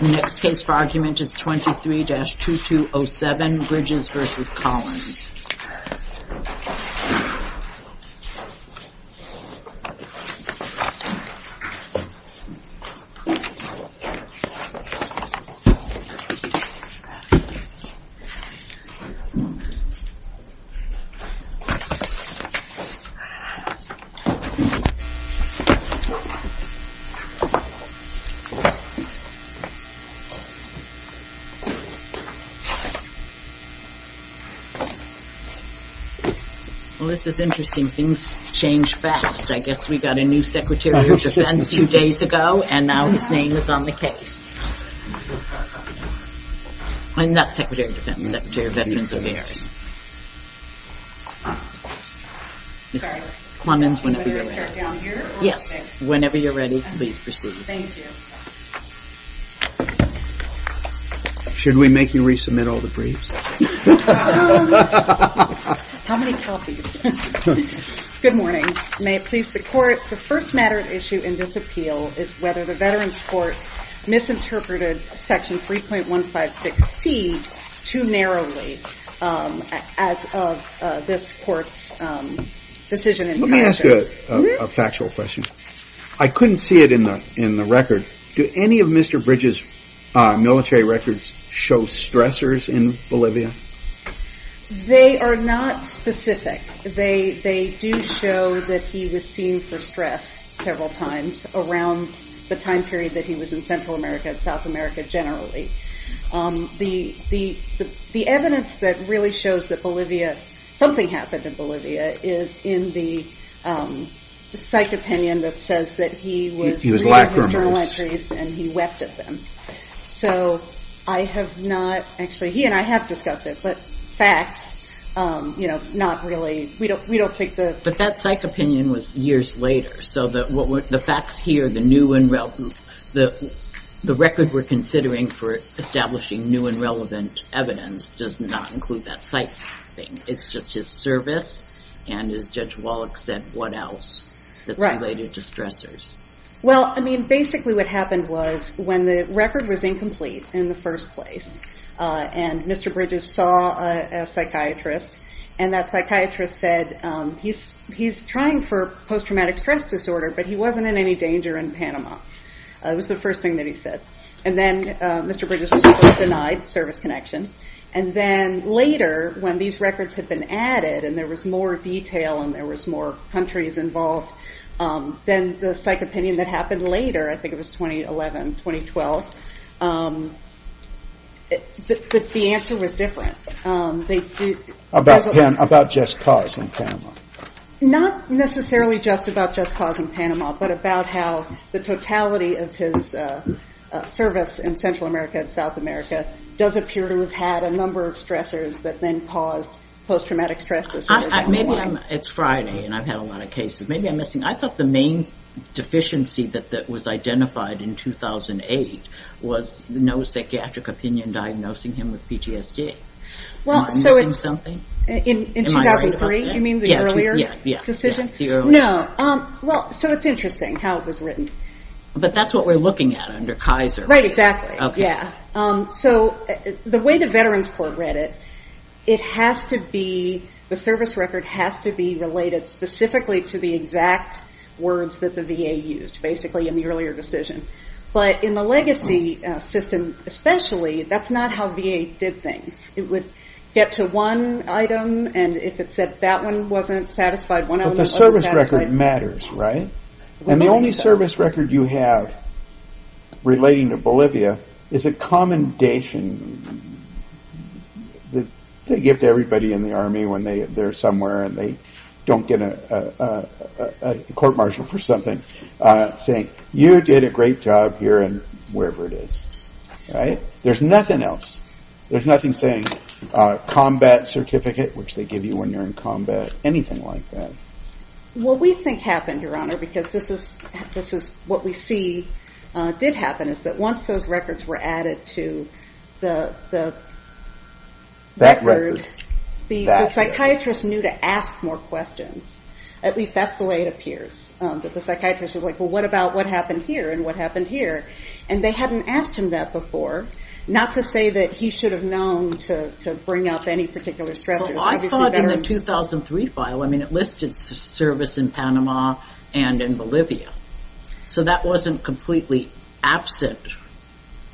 The next case for argument is 23-2207 Bridges v. Collins This is interesting, things change fast. I guess we got a new Secretary of Defense two days ago and now his name is on the case. I'm not Secretary of Defense, I'm Secretary of Veterans Affairs. Yes, whenever you're ready, please proceed. Should we make you resubmit all the briefs? How many copies? Good morning. May it please the Court, the first matter at issue in this appeal is whether the Veterans Court misinterpreted Section 3.156C too narrowly as of this Court's decision. Let me ask you a factual question. I couldn't see it in the record. Do any of Mr. Bridges' military records show stressors in Bolivia? They are not specific. They do show that he was seen for stress several times around the time period that he was in Central America and South America generally. The evidence that really shows that something happened in Bolivia is in the psych opinion that says that he was reading his journal entries and he wept at them. He and I have discussed it but facts, we don't take the... But that psych opinion was years later so the facts here, the record we're considering for establishing new and relevant evidence does not include that psych thing. It's just his service and as Judge Wallach said, what else that's related to stressors? Well, basically what happened was when the record was incomplete in the first place and Mr. Bridges saw a psychiatrist and that psychiatrist said he's trying for post-traumatic stress disorder but he wasn't in any danger in Panama. It was the first thing that he said. And then Mr. Bridges was denied service connection and then later when these records had been added and there was more detail and there was more countries involved, then the psych answer was different. About just cause in Panama. Not necessarily just about just cause in Panama but about how the totality of his service in Central America and South America does appear to have had a number of stressors that then caused post-traumatic stress disorder. It's Friday and I've had a lot of cases. I thought the main deficiency that was identified in 2008 was no psychiatric opinion diagnosing him with PTSD. Am I missing something? In 2003, you mean the earlier decision? Yes. No. So it's interesting how it was written. But that's what we're looking at under Kaiser. Right, exactly. So the way the Veterans Court read it, the service record has to be related specifically to the exact words that the VA used basically in the earlier decision. But in the legacy system especially, that's not how VA did things. It would get to one item and if it said that one wasn't satisfied, one element wasn't satisfied. But the service record matters, right? Right. And the only service record you have relating to Bolivia is a commendation that they give to everybody in the Army when they're somewhere and they don't get a court-martial for something saying, you did a great job here and wherever it is, right? There's nothing else. There's nothing saying combat certificate, which they give you when you're in combat, anything like that. Well, we think happened, Your Honor, because this is what we see did happen is that once those records were added to the record, the psychiatrist knew to ask more questions. At least that's the way it appears, that the psychiatrist was like, well, what about what happened here and what happened here? And they hadn't asked him that before, not to say that he should have known to bring up any particular stressors. Well, I saw it in the 2003 file. I mean, it listed service in Panama and in Bolivia. So that wasn't completely absent.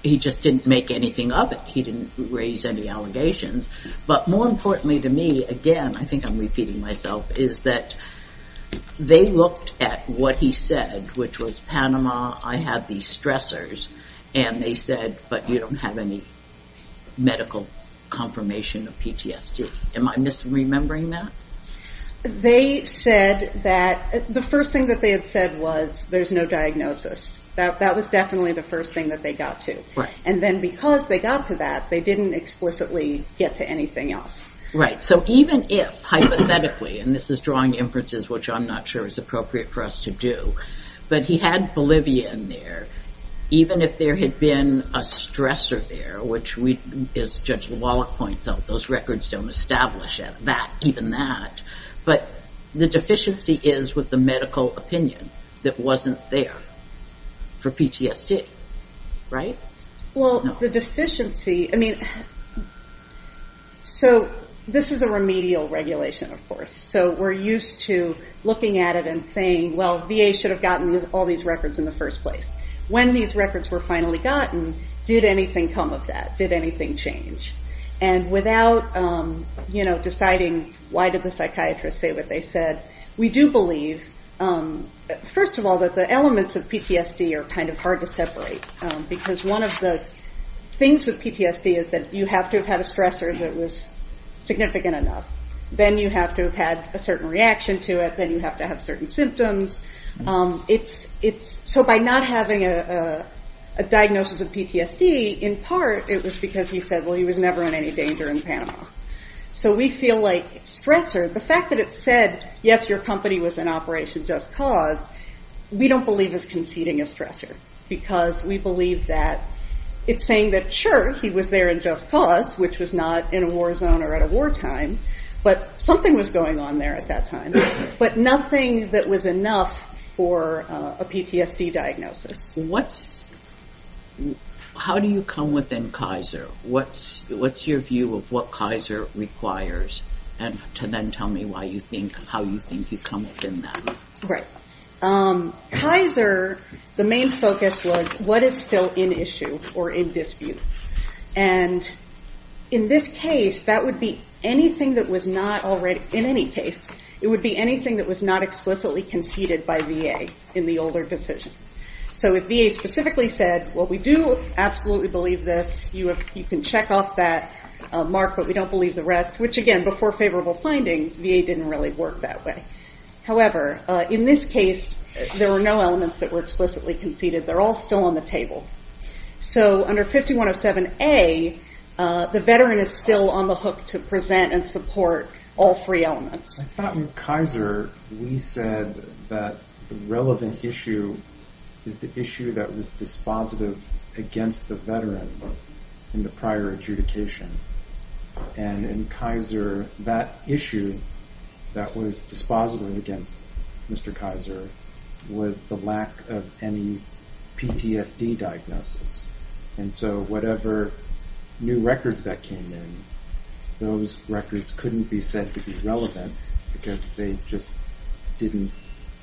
He just didn't make anything of it. He didn't raise any allegations. But more importantly to me, again, I think I'm repeating myself, is that they looked at what he said, which was Panama, I have these stressors. And they said, but you don't have any medical confirmation of PTSD. Am I misremembering that? They said that the first thing that they had said was there's no diagnosis. That was definitely the first thing that they got to. And then because they got to that, they didn't explicitly get to anything else. Right. So even if, hypothetically, and this is drawing inferences, which I'm not sure is appropriate for us to do, but he had Bolivia in there, even if there had been a stressor there, which as Judge Lawlock points out, those records don't establish that, even that. But the deficiency is with the medical opinion that wasn't there for PTSD, right? Well, the deficiency, I mean, so this is a remedial regulation, of course. So we're used to looking at it and saying, well, VA should have gotten all these records in the first place. When these records were finally gotten, did anything come of that? Did anything change? And without, you know, deciding why did the psychiatrist say what they said, we do believe, first of all, that the elements of PTSD are kind of hard to separate. Because one of the things with PTSD is that you have to have had a stressor that was significant enough. Then you have to have had a certain reaction to it. Then you have to have certain symptoms. So by not having a diagnosis of PTSD, in part it was because he said, well, he was never in any danger in Panama. So we feel like stressor, the fact that it said, yes, your company was in Operation Just Cause, we don't believe is conceding a stressor. Because we believe that it's saying that, sure, he was there in Just Cause, which was not in a war zone or at a wartime, but something was going on there at that time. But nothing that was enough for a PTSD diagnosis. How do you come within Kaiser? What's your view of what Kaiser requires? And then tell me how you think you come within that. Right. Kaiser, the main focus was what is still in issue or in dispute. And in this case, that would be anything that was not already, in any case, it would be anything that was not explicitly conceded by VA in the older decision. So if VA specifically said, well, we do absolutely believe this, you can check off that mark, but we don't believe the rest, which, again, before favorable findings, VA didn't really work that way. However, in this case, there were no elements that were explicitly conceded. They're all still on the table. So under 5107A, the veteran is still on the hook to present and support all three elements. I thought in Kaiser we said that the relevant issue is the issue that was dispositive against the veteran in the prior adjudication. And in Kaiser, that issue that was dispositive against Mr. Kaiser was the lack of any PTSD diagnosis. And so whatever new records that came in, those records couldn't be said to be relevant because they just didn't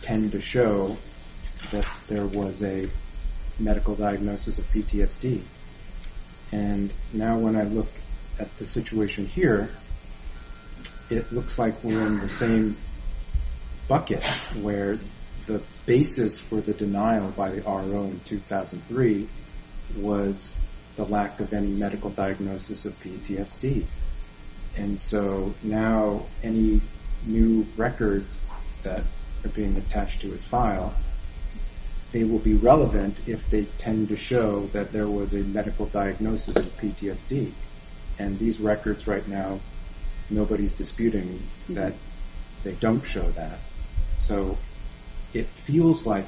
tend to show that there was a medical diagnosis of PTSD. And now when I look at the situation here, it looks like we're in the same bucket where the basis for the denial by the RO in 2003 was the lack of any medical diagnosis of PTSD. And so now any new records that are being attached to his file, they will be relevant if they tend to show that there was a medical diagnosis of PTSD. And these records right now, nobody's disputing that they don't show that. So it feels like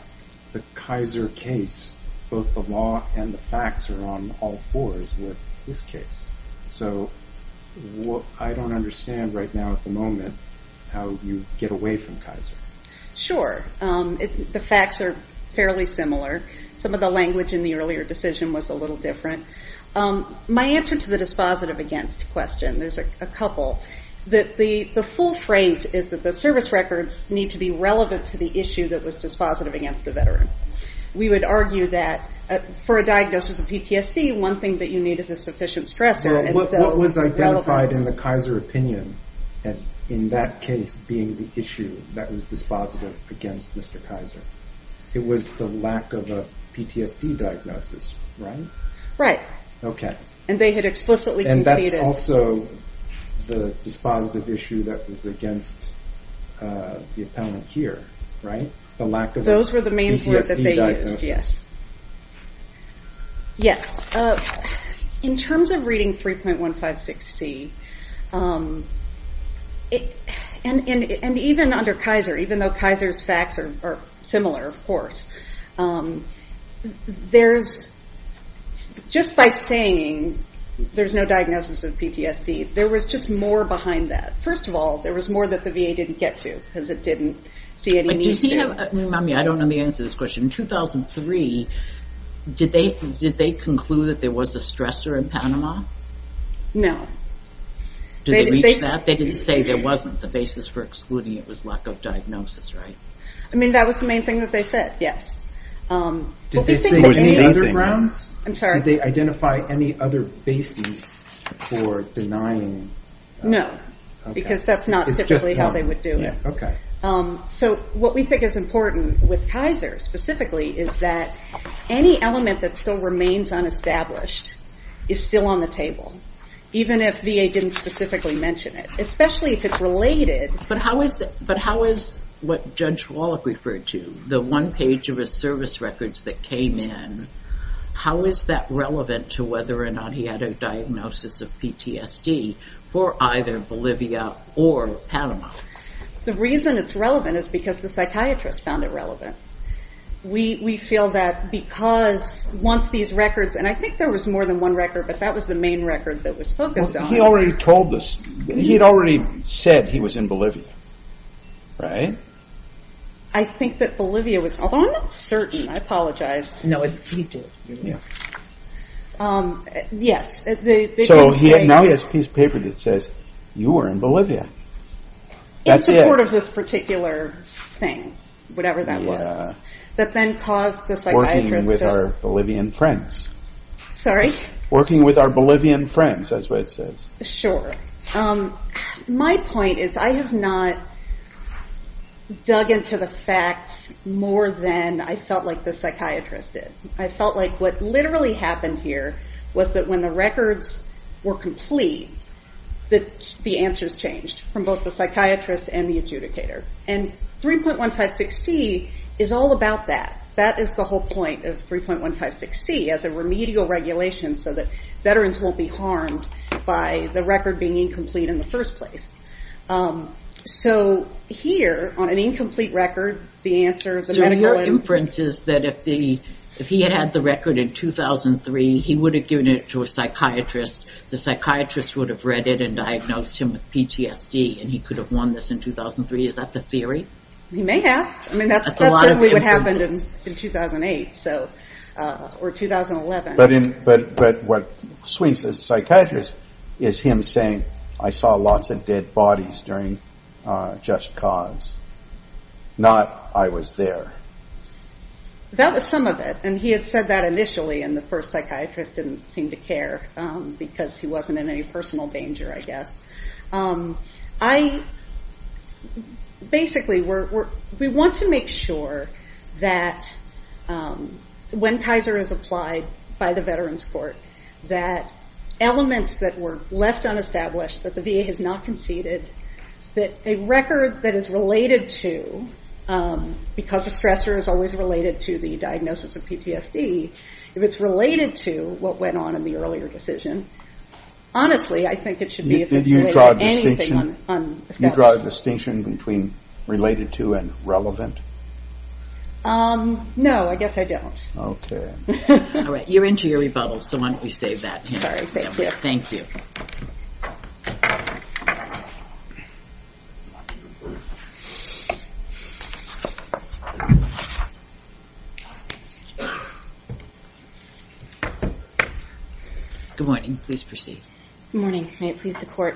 the Kaiser case, both the law and the facts are on all fours with this case. So I don't understand right now at the moment how you get away from Kaiser. Sure. The facts are fairly similar. Some of the language in the earlier decision was a little different. My answer to the dispositive against question, there's a couple. The full phrase is that the service records need to be relevant to the issue that was dispositive against the veteran. We would argue that for a diagnosis of PTSD, one thing that you need is a sufficient stressor. What was identified in the Kaiser opinion in that case being the issue that was dispositive against Mr. Kaiser? It was the lack of a PTSD diagnosis, right? Right. Okay. And they had explicitly conceded. And that's also the dispositive issue that was against the appellant here, right? The lack of a PTSD diagnosis. Those were the main words that they used, yes. Yes. In terms of reading 3.156C, and even under Kaiser, even though Kaiser's facts are similar, of course, just by saying there's no diagnosis of PTSD, there was just more behind that. First of all, there was more that the VA didn't get to because it didn't see any need to. Remind me, I don't know the answer to this question. In 2003, did they conclude that there was a stressor in Panama? No. Did they reach that? They didn't say there wasn't. The basis for excluding it was lack of diagnosis, right? I mean, that was the main thing that they said, yes. Did they say any other grounds? I'm sorry. Did they identify any other basis for denying? No, because that's not typically how they would do it. Okay. What we think is important with Kaiser, specifically, is that any element that still remains unestablished is still on the table, even if VA didn't specifically mention it, especially if it's related. But how is what Judge Wallach referred to, the one page of his service records that came in, how is that relevant to whether or not he had a diagnosis of PTSD for either Bolivia or Panama? The reason it's relevant is because the psychiatrist found it relevant. We feel that because once these records, and I think there was more than one record, but that was the main record that was focused on. He already told us. He had already said he was in Bolivia, right? I think that Bolivia was, although I'm not certain. I apologize. No, he did. Yes. So now he has a piece of paper that says, you were in Bolivia. In support of this particular thing, whatever that was, that then caused the psychiatrist to... Working with our Bolivian friends. Sorry? Working with our Bolivian friends, that's what it says. Sure. My point is I have not dug into the facts more than I felt like the psychiatrist did. I felt like what literally happened here was that when the records were complete, the answers changed from both the psychiatrist and the adjudicator. And 3.156C is all about that. That is the whole point of 3.156C as a remedial regulation so that veterans won't be harmed by the record being incomplete in the first place. So here, on an incomplete record, the answer of the medical... If he had the record in 2003, he would have given it to a psychiatrist. The psychiatrist would have read it and diagnosed him with PTSD, and he could have won this in 2003. Is that the theory? He may have. I mean, that's certainly what happened in 2008 or 2011. But what swings the psychiatrist is him saying, I saw lots of dead bodies during Just Cause. Not, I was there. That was some of it, and he had said that initially, and the first psychiatrist didn't seem to care because he wasn't in any personal danger, I guess. Basically, we want to make sure that when Kaiser is applied by the Veterans Court, that elements that were left unestablished, that the VA has not conceded, that a record that is related to, because a stressor is always related to the diagnosis of PTSD, if it's related to what went on in the earlier decision, honestly, I think it should be... You draw a distinction between related to and relevant? No, I guess I don't. Okay. All right. You're into your rebuttals, so why don't you save that. Sorry. Thank you. Thank you. Good morning. Please proceed. Good morning. May it please the Court.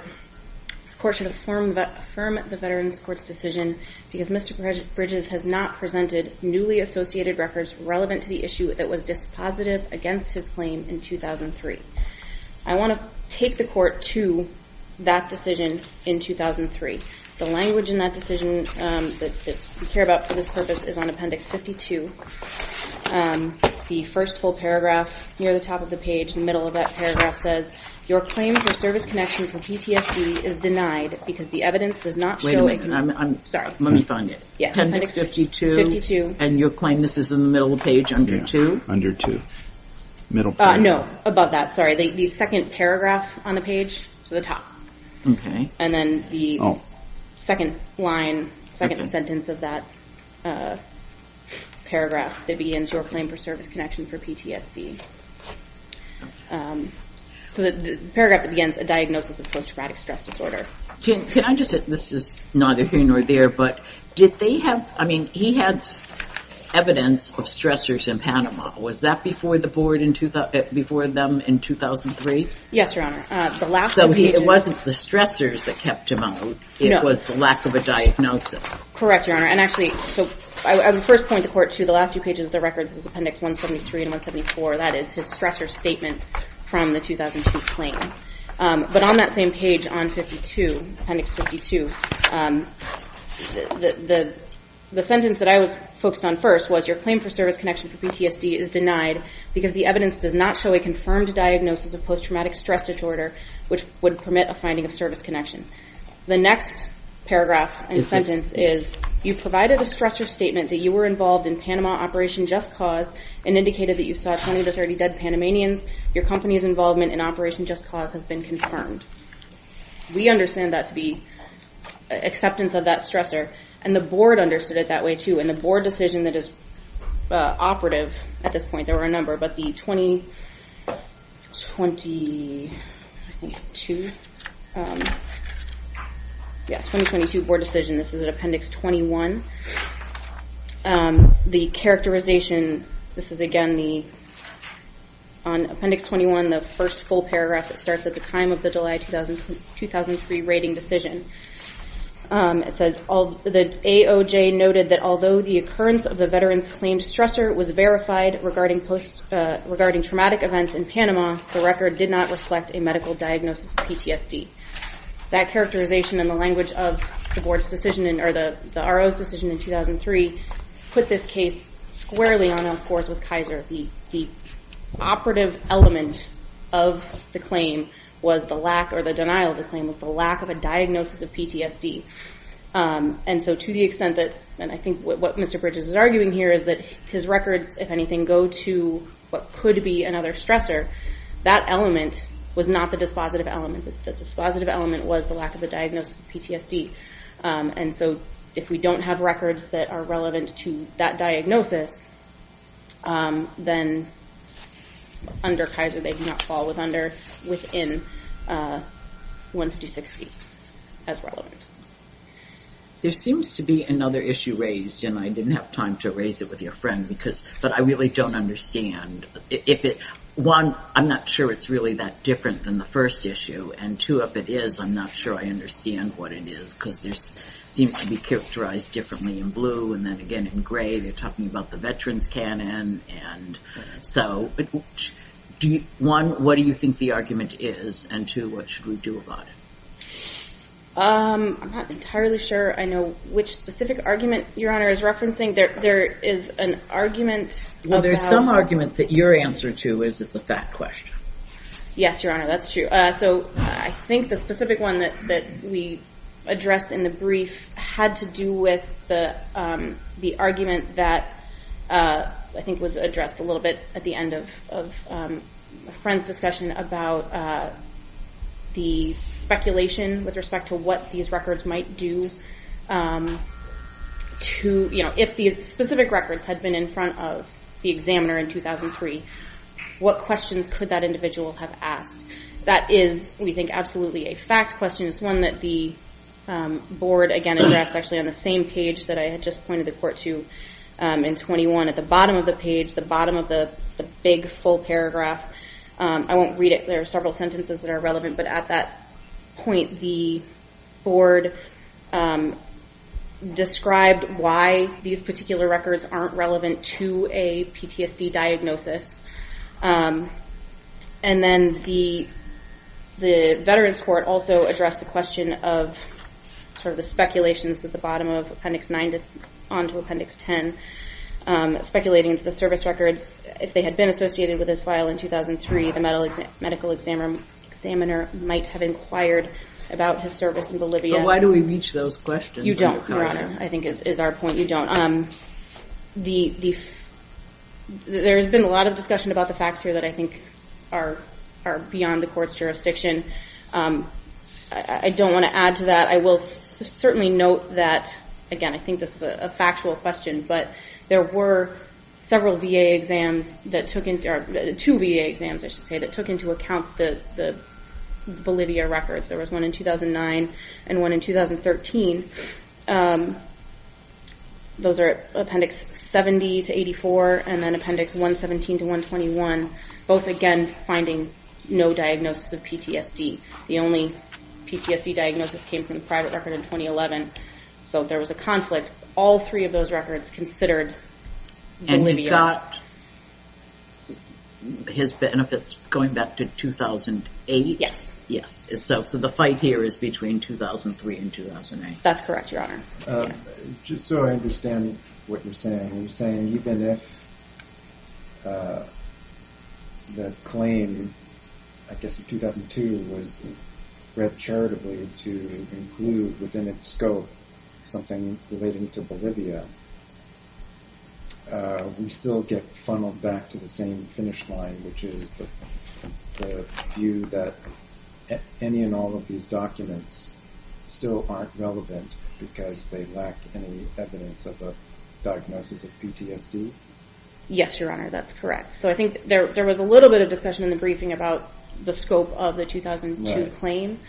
The Court should affirm the Veterans Court's decision because Mr. Bridges has not presented newly associated records relevant to the issue that was dispositive against his claim in 2003. I want to take the Court to that decision in 2003. The language in that decision that we care about for this purpose is on Appendix 52. The first full paragraph near the top of the page, the middle of that paragraph, says your claim for service connection for PTSD is denied because the evidence does not show... Wait a minute. Sorry. Let me find it. Yes. Appendix 52. And your claim, this is in the middle of the page under 2? Yeah. Under 2. Middle paragraph. No, above that. Sorry. The second paragraph on the page to the top. Okay. And then the second line, second sentence of that paragraph that begins, your claim for service connection for PTSD. So the paragraph that begins, a diagnosis of post-traumatic stress disorder. Can I just say, this is neither here nor there, but did they have, I mean, he had evidence of stressors in Panama. Was that before the board in 2003? Yes, Your Honor. So it wasn't the stressors that kept him out. It was the lack of a diagnosis. Correct, Your Honor. And actually, so I would first point the Court to the last two pages of the records, Appendix 173 and 174. That is his stressor statement from the 2002 claim. But on that same page on 52, Appendix 52, the sentence that I was focused on first was your claim for service connection for PTSD is denied because the evidence does not show a confirmed diagnosis of post-traumatic stress disorder, which would permit a finding of service connection. The next paragraph and sentence is, you provided a stressor statement that you were involved in Panama Operation Just Cause and indicated that you saw 20 to 30 dead Panamanians. Your company's involvement in Operation Just Cause has been confirmed. We understand that to be acceptance of that stressor, and the board understood it that way, too, and the board decision that is operative at this point, there were a number, but the 2022 board decision, this is at Appendix 21, the characterization, this is, again, on Appendix 21, the first full paragraph that starts at the time of the July 2003 rating decision. It said the AOJ noted that although the occurrence of the veteran's claimed stressor was verified regarding traumatic events in Panama, the record did not reflect a medical diagnosis of PTSD. That characterization in the language of the board's decision or the RO's decision in 2003 put this case squarely on a course with Kaiser. The operative element of the claim was the lack or the denial of the claim was the lack of a diagnosis of PTSD, and so to the extent that, and I think what Mr. Bridges is arguing here is that his records, if anything, go to what could be another stressor. That element was not the dispositive element. The dispositive element was the lack of the diagnosis of PTSD, and so if we don't have records that are relevant to that diagnosis, then under Kaiser, they do not fall within 156C as relevant. There seems to be another issue raised, and I didn't have time to raise it with your friend, but I really don't understand. One, I'm not sure it's really that different than the first issue, and two, if it is, I'm not sure I understand what it is because it seems to be characterized differently in blue, and then again in gray, they're talking about the veteran's canon. One, what do you think the argument is, and two, what should we do about it? I'm not entirely sure I know which specific argument Your Honor is referencing. There is an argument. Well, there's some arguments that your answer to is it's a fact question. Yes, Your Honor, that's true. So I think the specific one that we addressed in the brief had to do with the argument that, I think, was addressed a little bit at the end of a friend's discussion about the speculation with respect to what these records might do. If these specific records had been in front of the examiner in 2003, what questions could that individual have asked? That is, we think, absolutely a fact question. It's one that the Board, again, addressed actually on the same page that I had just pointed the court to in 21. At the bottom of the page, the bottom of the big full paragraph, I won't read it. There are several sentences that are relevant, but at that point, the Board described why these particular records aren't relevant to a PTSD diagnosis. And then the Veterans Court also addressed the question of the speculations at the bottom of Appendix 9 onto Appendix 10, speculating that the service records, if they had been associated with this file in 2003, the medical examiner might have inquired about his service in Bolivia. But why do we reach those questions? You don't, Your Honor, I think is our point. You don't. There has been a lot of discussion about the facts here that I think are beyond the court's jurisdiction. I don't want to add to that. I will certainly note that, again, I think this is a factual question, but there were several VA exams that took into account the Bolivia records. There was one in 2009 and one in 2013. Those are Appendix 70 to 84 and then Appendix 117 to 121, both, again, finding no diagnosis of PTSD. The only PTSD diagnosis came from the private record in 2011. So there was a conflict. All three of those records considered Bolivia. And you got his benefits going back to 2008? Yes. Yes. So the fight here is between 2003 and 2008. That's correct, Your Honor. Just so I understand what you're saying, you're saying even if the claim, I guess in 2002, was read charitably to include within its scope something relating to Bolivia, we still get funneled back to the same finish line, which is the view that any and all of these documents still aren't relevant because they lack any evidence of a diagnosis of PTSD? Yes, Your Honor, that's correct. So I think there was a little bit of discussion in the briefing about the scope of the 2002 claim.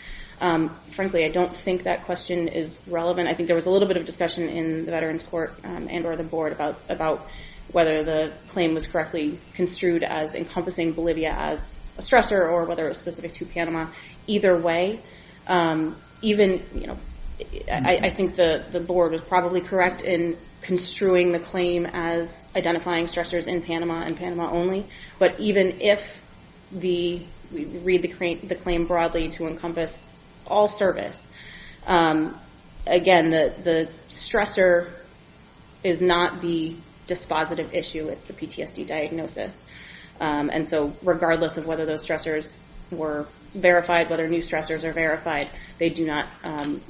Frankly, I don't think that question is relevant. I think there was a little bit of discussion in the Veterans Court and or the Board about whether the claim was correctly construed as encompassing Bolivia as a stressor or whether it was specific to Panama. Either way, even I think the Board was probably correct in construing the claim as identifying stressors in Panama and Panama only. But even if we read the claim broadly to encompass all service, again, the stressor is not the dispositive issue. It's the PTSD diagnosis. And so regardless of whether those stressors were verified, whether new stressors are verified, they do not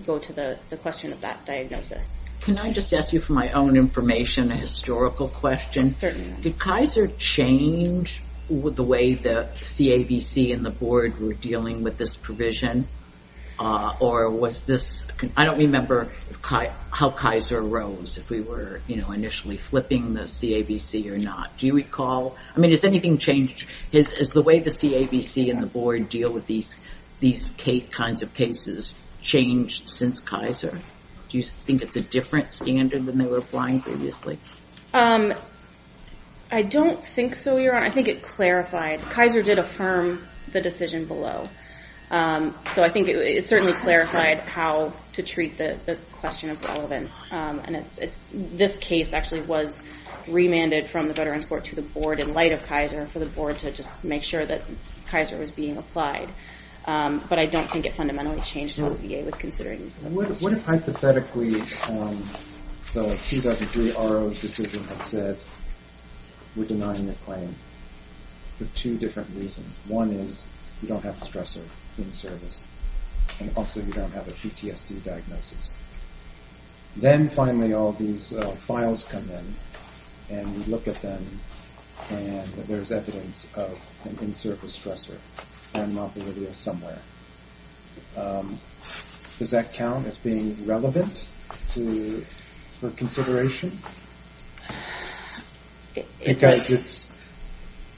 go to the question of that diagnosis. Can I just ask you for my own information, a historical question? Certainly. Did Kaiser change the way the CAVC and the Board were dealing with this provision? Or was this – I don't remember how Kaiser arose, if we were initially flipping the CAVC or not. Do you recall? I mean, has anything changed? Has the way the CAVC and the Board deal with these kinds of cases changed since Kaiser? Do you think it's a different standard than they were applying previously? I don't think so, Your Honor. I think it clarified. Kaiser did affirm the decision below. So I think it certainly clarified how to treat the question of relevance. And this case actually was remanded from the Veterans Court to the Board in light of Kaiser for the Board to just make sure that Kaiser was being applied. But I don't think it fundamentally changed how the VA was considering these. What if, hypothetically, the 2003 RO's decision had said, we're denying the claim for two different reasons. One is you don't have a stressor in service, and also you don't have a PTSD diagnosis. Then, finally, all these files come in, and we look at them, and there's evidence of an in-service stressor at Mount Bolivia somewhere. Does that count as being relevant for consideration? It's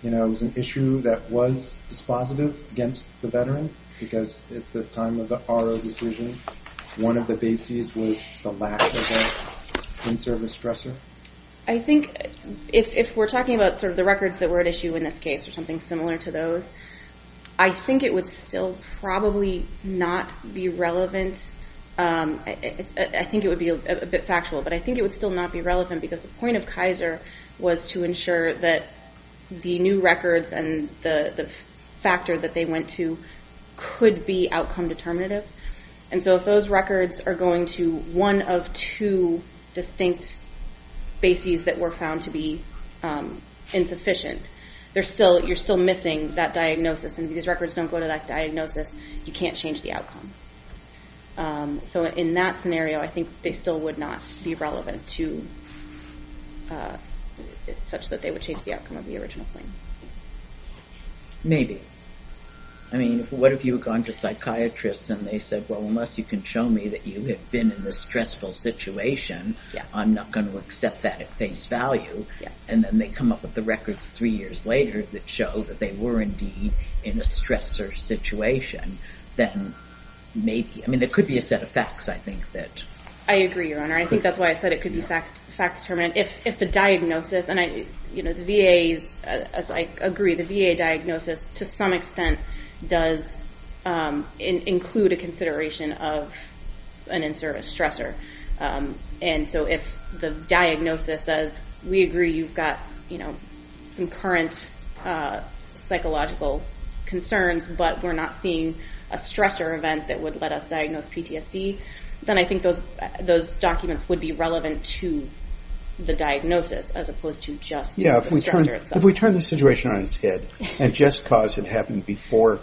an issue that was dispositive against the veteran because at the time of the RO decision, one of the bases was the lack of an in-service stressor? I think if we're talking about sort of the records that were at issue in this case, or something similar to those, I think it would still probably not be relevant. I think it would be a bit factual, but I think it would still not be relevant because the point of Kaiser was to ensure that the new records and the factor that they went to could be outcome determinative. If those records are going to one of two distinct bases that were found to be insufficient, you're still missing that diagnosis, and if these records don't go to that diagnosis, you can't change the outcome. In that scenario, I think they still would not be relevant, such that they would change the outcome of the original claim. Maybe. I mean, what if you had gone to psychiatrists and they said, well, unless you can show me that you have been in a stressful situation, I'm not going to accept that at face value, and then they come up with the records three years later that show that they were indeed in a stressor situation, then maybe. I mean, there could be a set of facts, I think, that... I agree, Your Honor. I think that's why I said it could be fact-determinant. If the diagnosis, and the VA, as I agree, the VA diagnosis, to some extent does include a consideration of an in-service stressor. And so if the diagnosis says, we agree you've got some current psychological concerns, but we're not seeing a stressor event that would let us diagnose PTSD, then I think those documents would be relevant to the diagnosis, as opposed to just the stressor itself. Yeah, if we turn the situation on its head, and Just Cause had happened before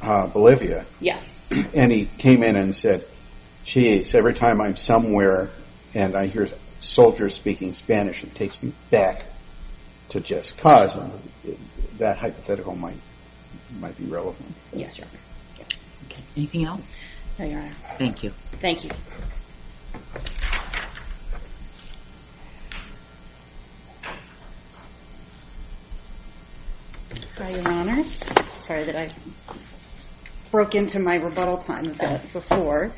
Bolivia, and he came in and said, geez, every time I'm somewhere and I hear soldiers speaking Spanish, it takes me back to Just Cause, that hypothetical might be relevant. Yes, Your Honor. Anything else? Thank you. Thank you. Your Honors, sorry that I broke into my rebuttal time a bit before.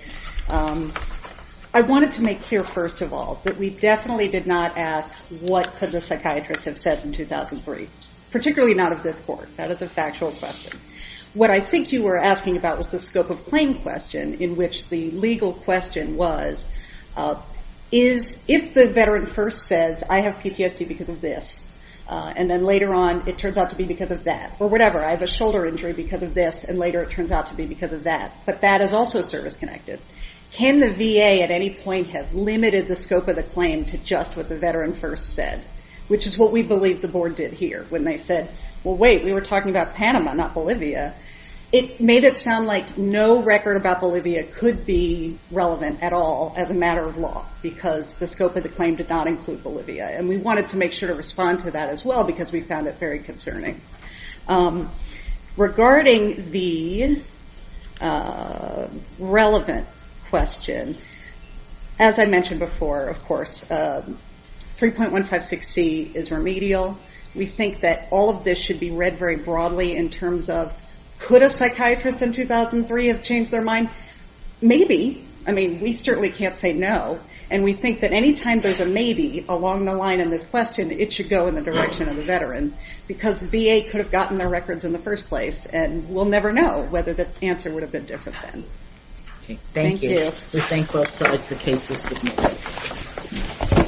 I wanted to make clear, first of all, that we definitely did not ask what could the psychiatrist have said in 2003, particularly not of this court. That is a factual question. What I think you were asking about was the scope of claim question, in which the legal question was, if the veteran first says, I have PTSD because of this, and then later on it turns out to be because of that, or whatever, I have a shoulder injury because of this, and later it turns out to be because of that, but that is also service-connected, can the VA at any point have limited the scope of the claim to just what the veteran first said, which is what we believe the Board did here, when they said, well, wait, we were talking about Panama, not Bolivia. It made it sound like no record about Bolivia could be relevant at all as a matter of law, because the scope of the claim did not include Bolivia, and we wanted to make sure to respond to that as well, because we found it very concerning. Regarding the relevant question, as I mentioned before, of course, 3.156C is remedial. We think that all of this should be read very broadly in terms of, could a psychiatrist in 2003 have changed their mind? Maybe. I mean, we certainly can't say no, and we think that any time there's a maybe along the line in this question, it should go in the direction of the veteran, because the VA could have gotten their records in the first place, and we'll never know whether the answer would have been different then. Thank you. We thank both sides. The case is submitted.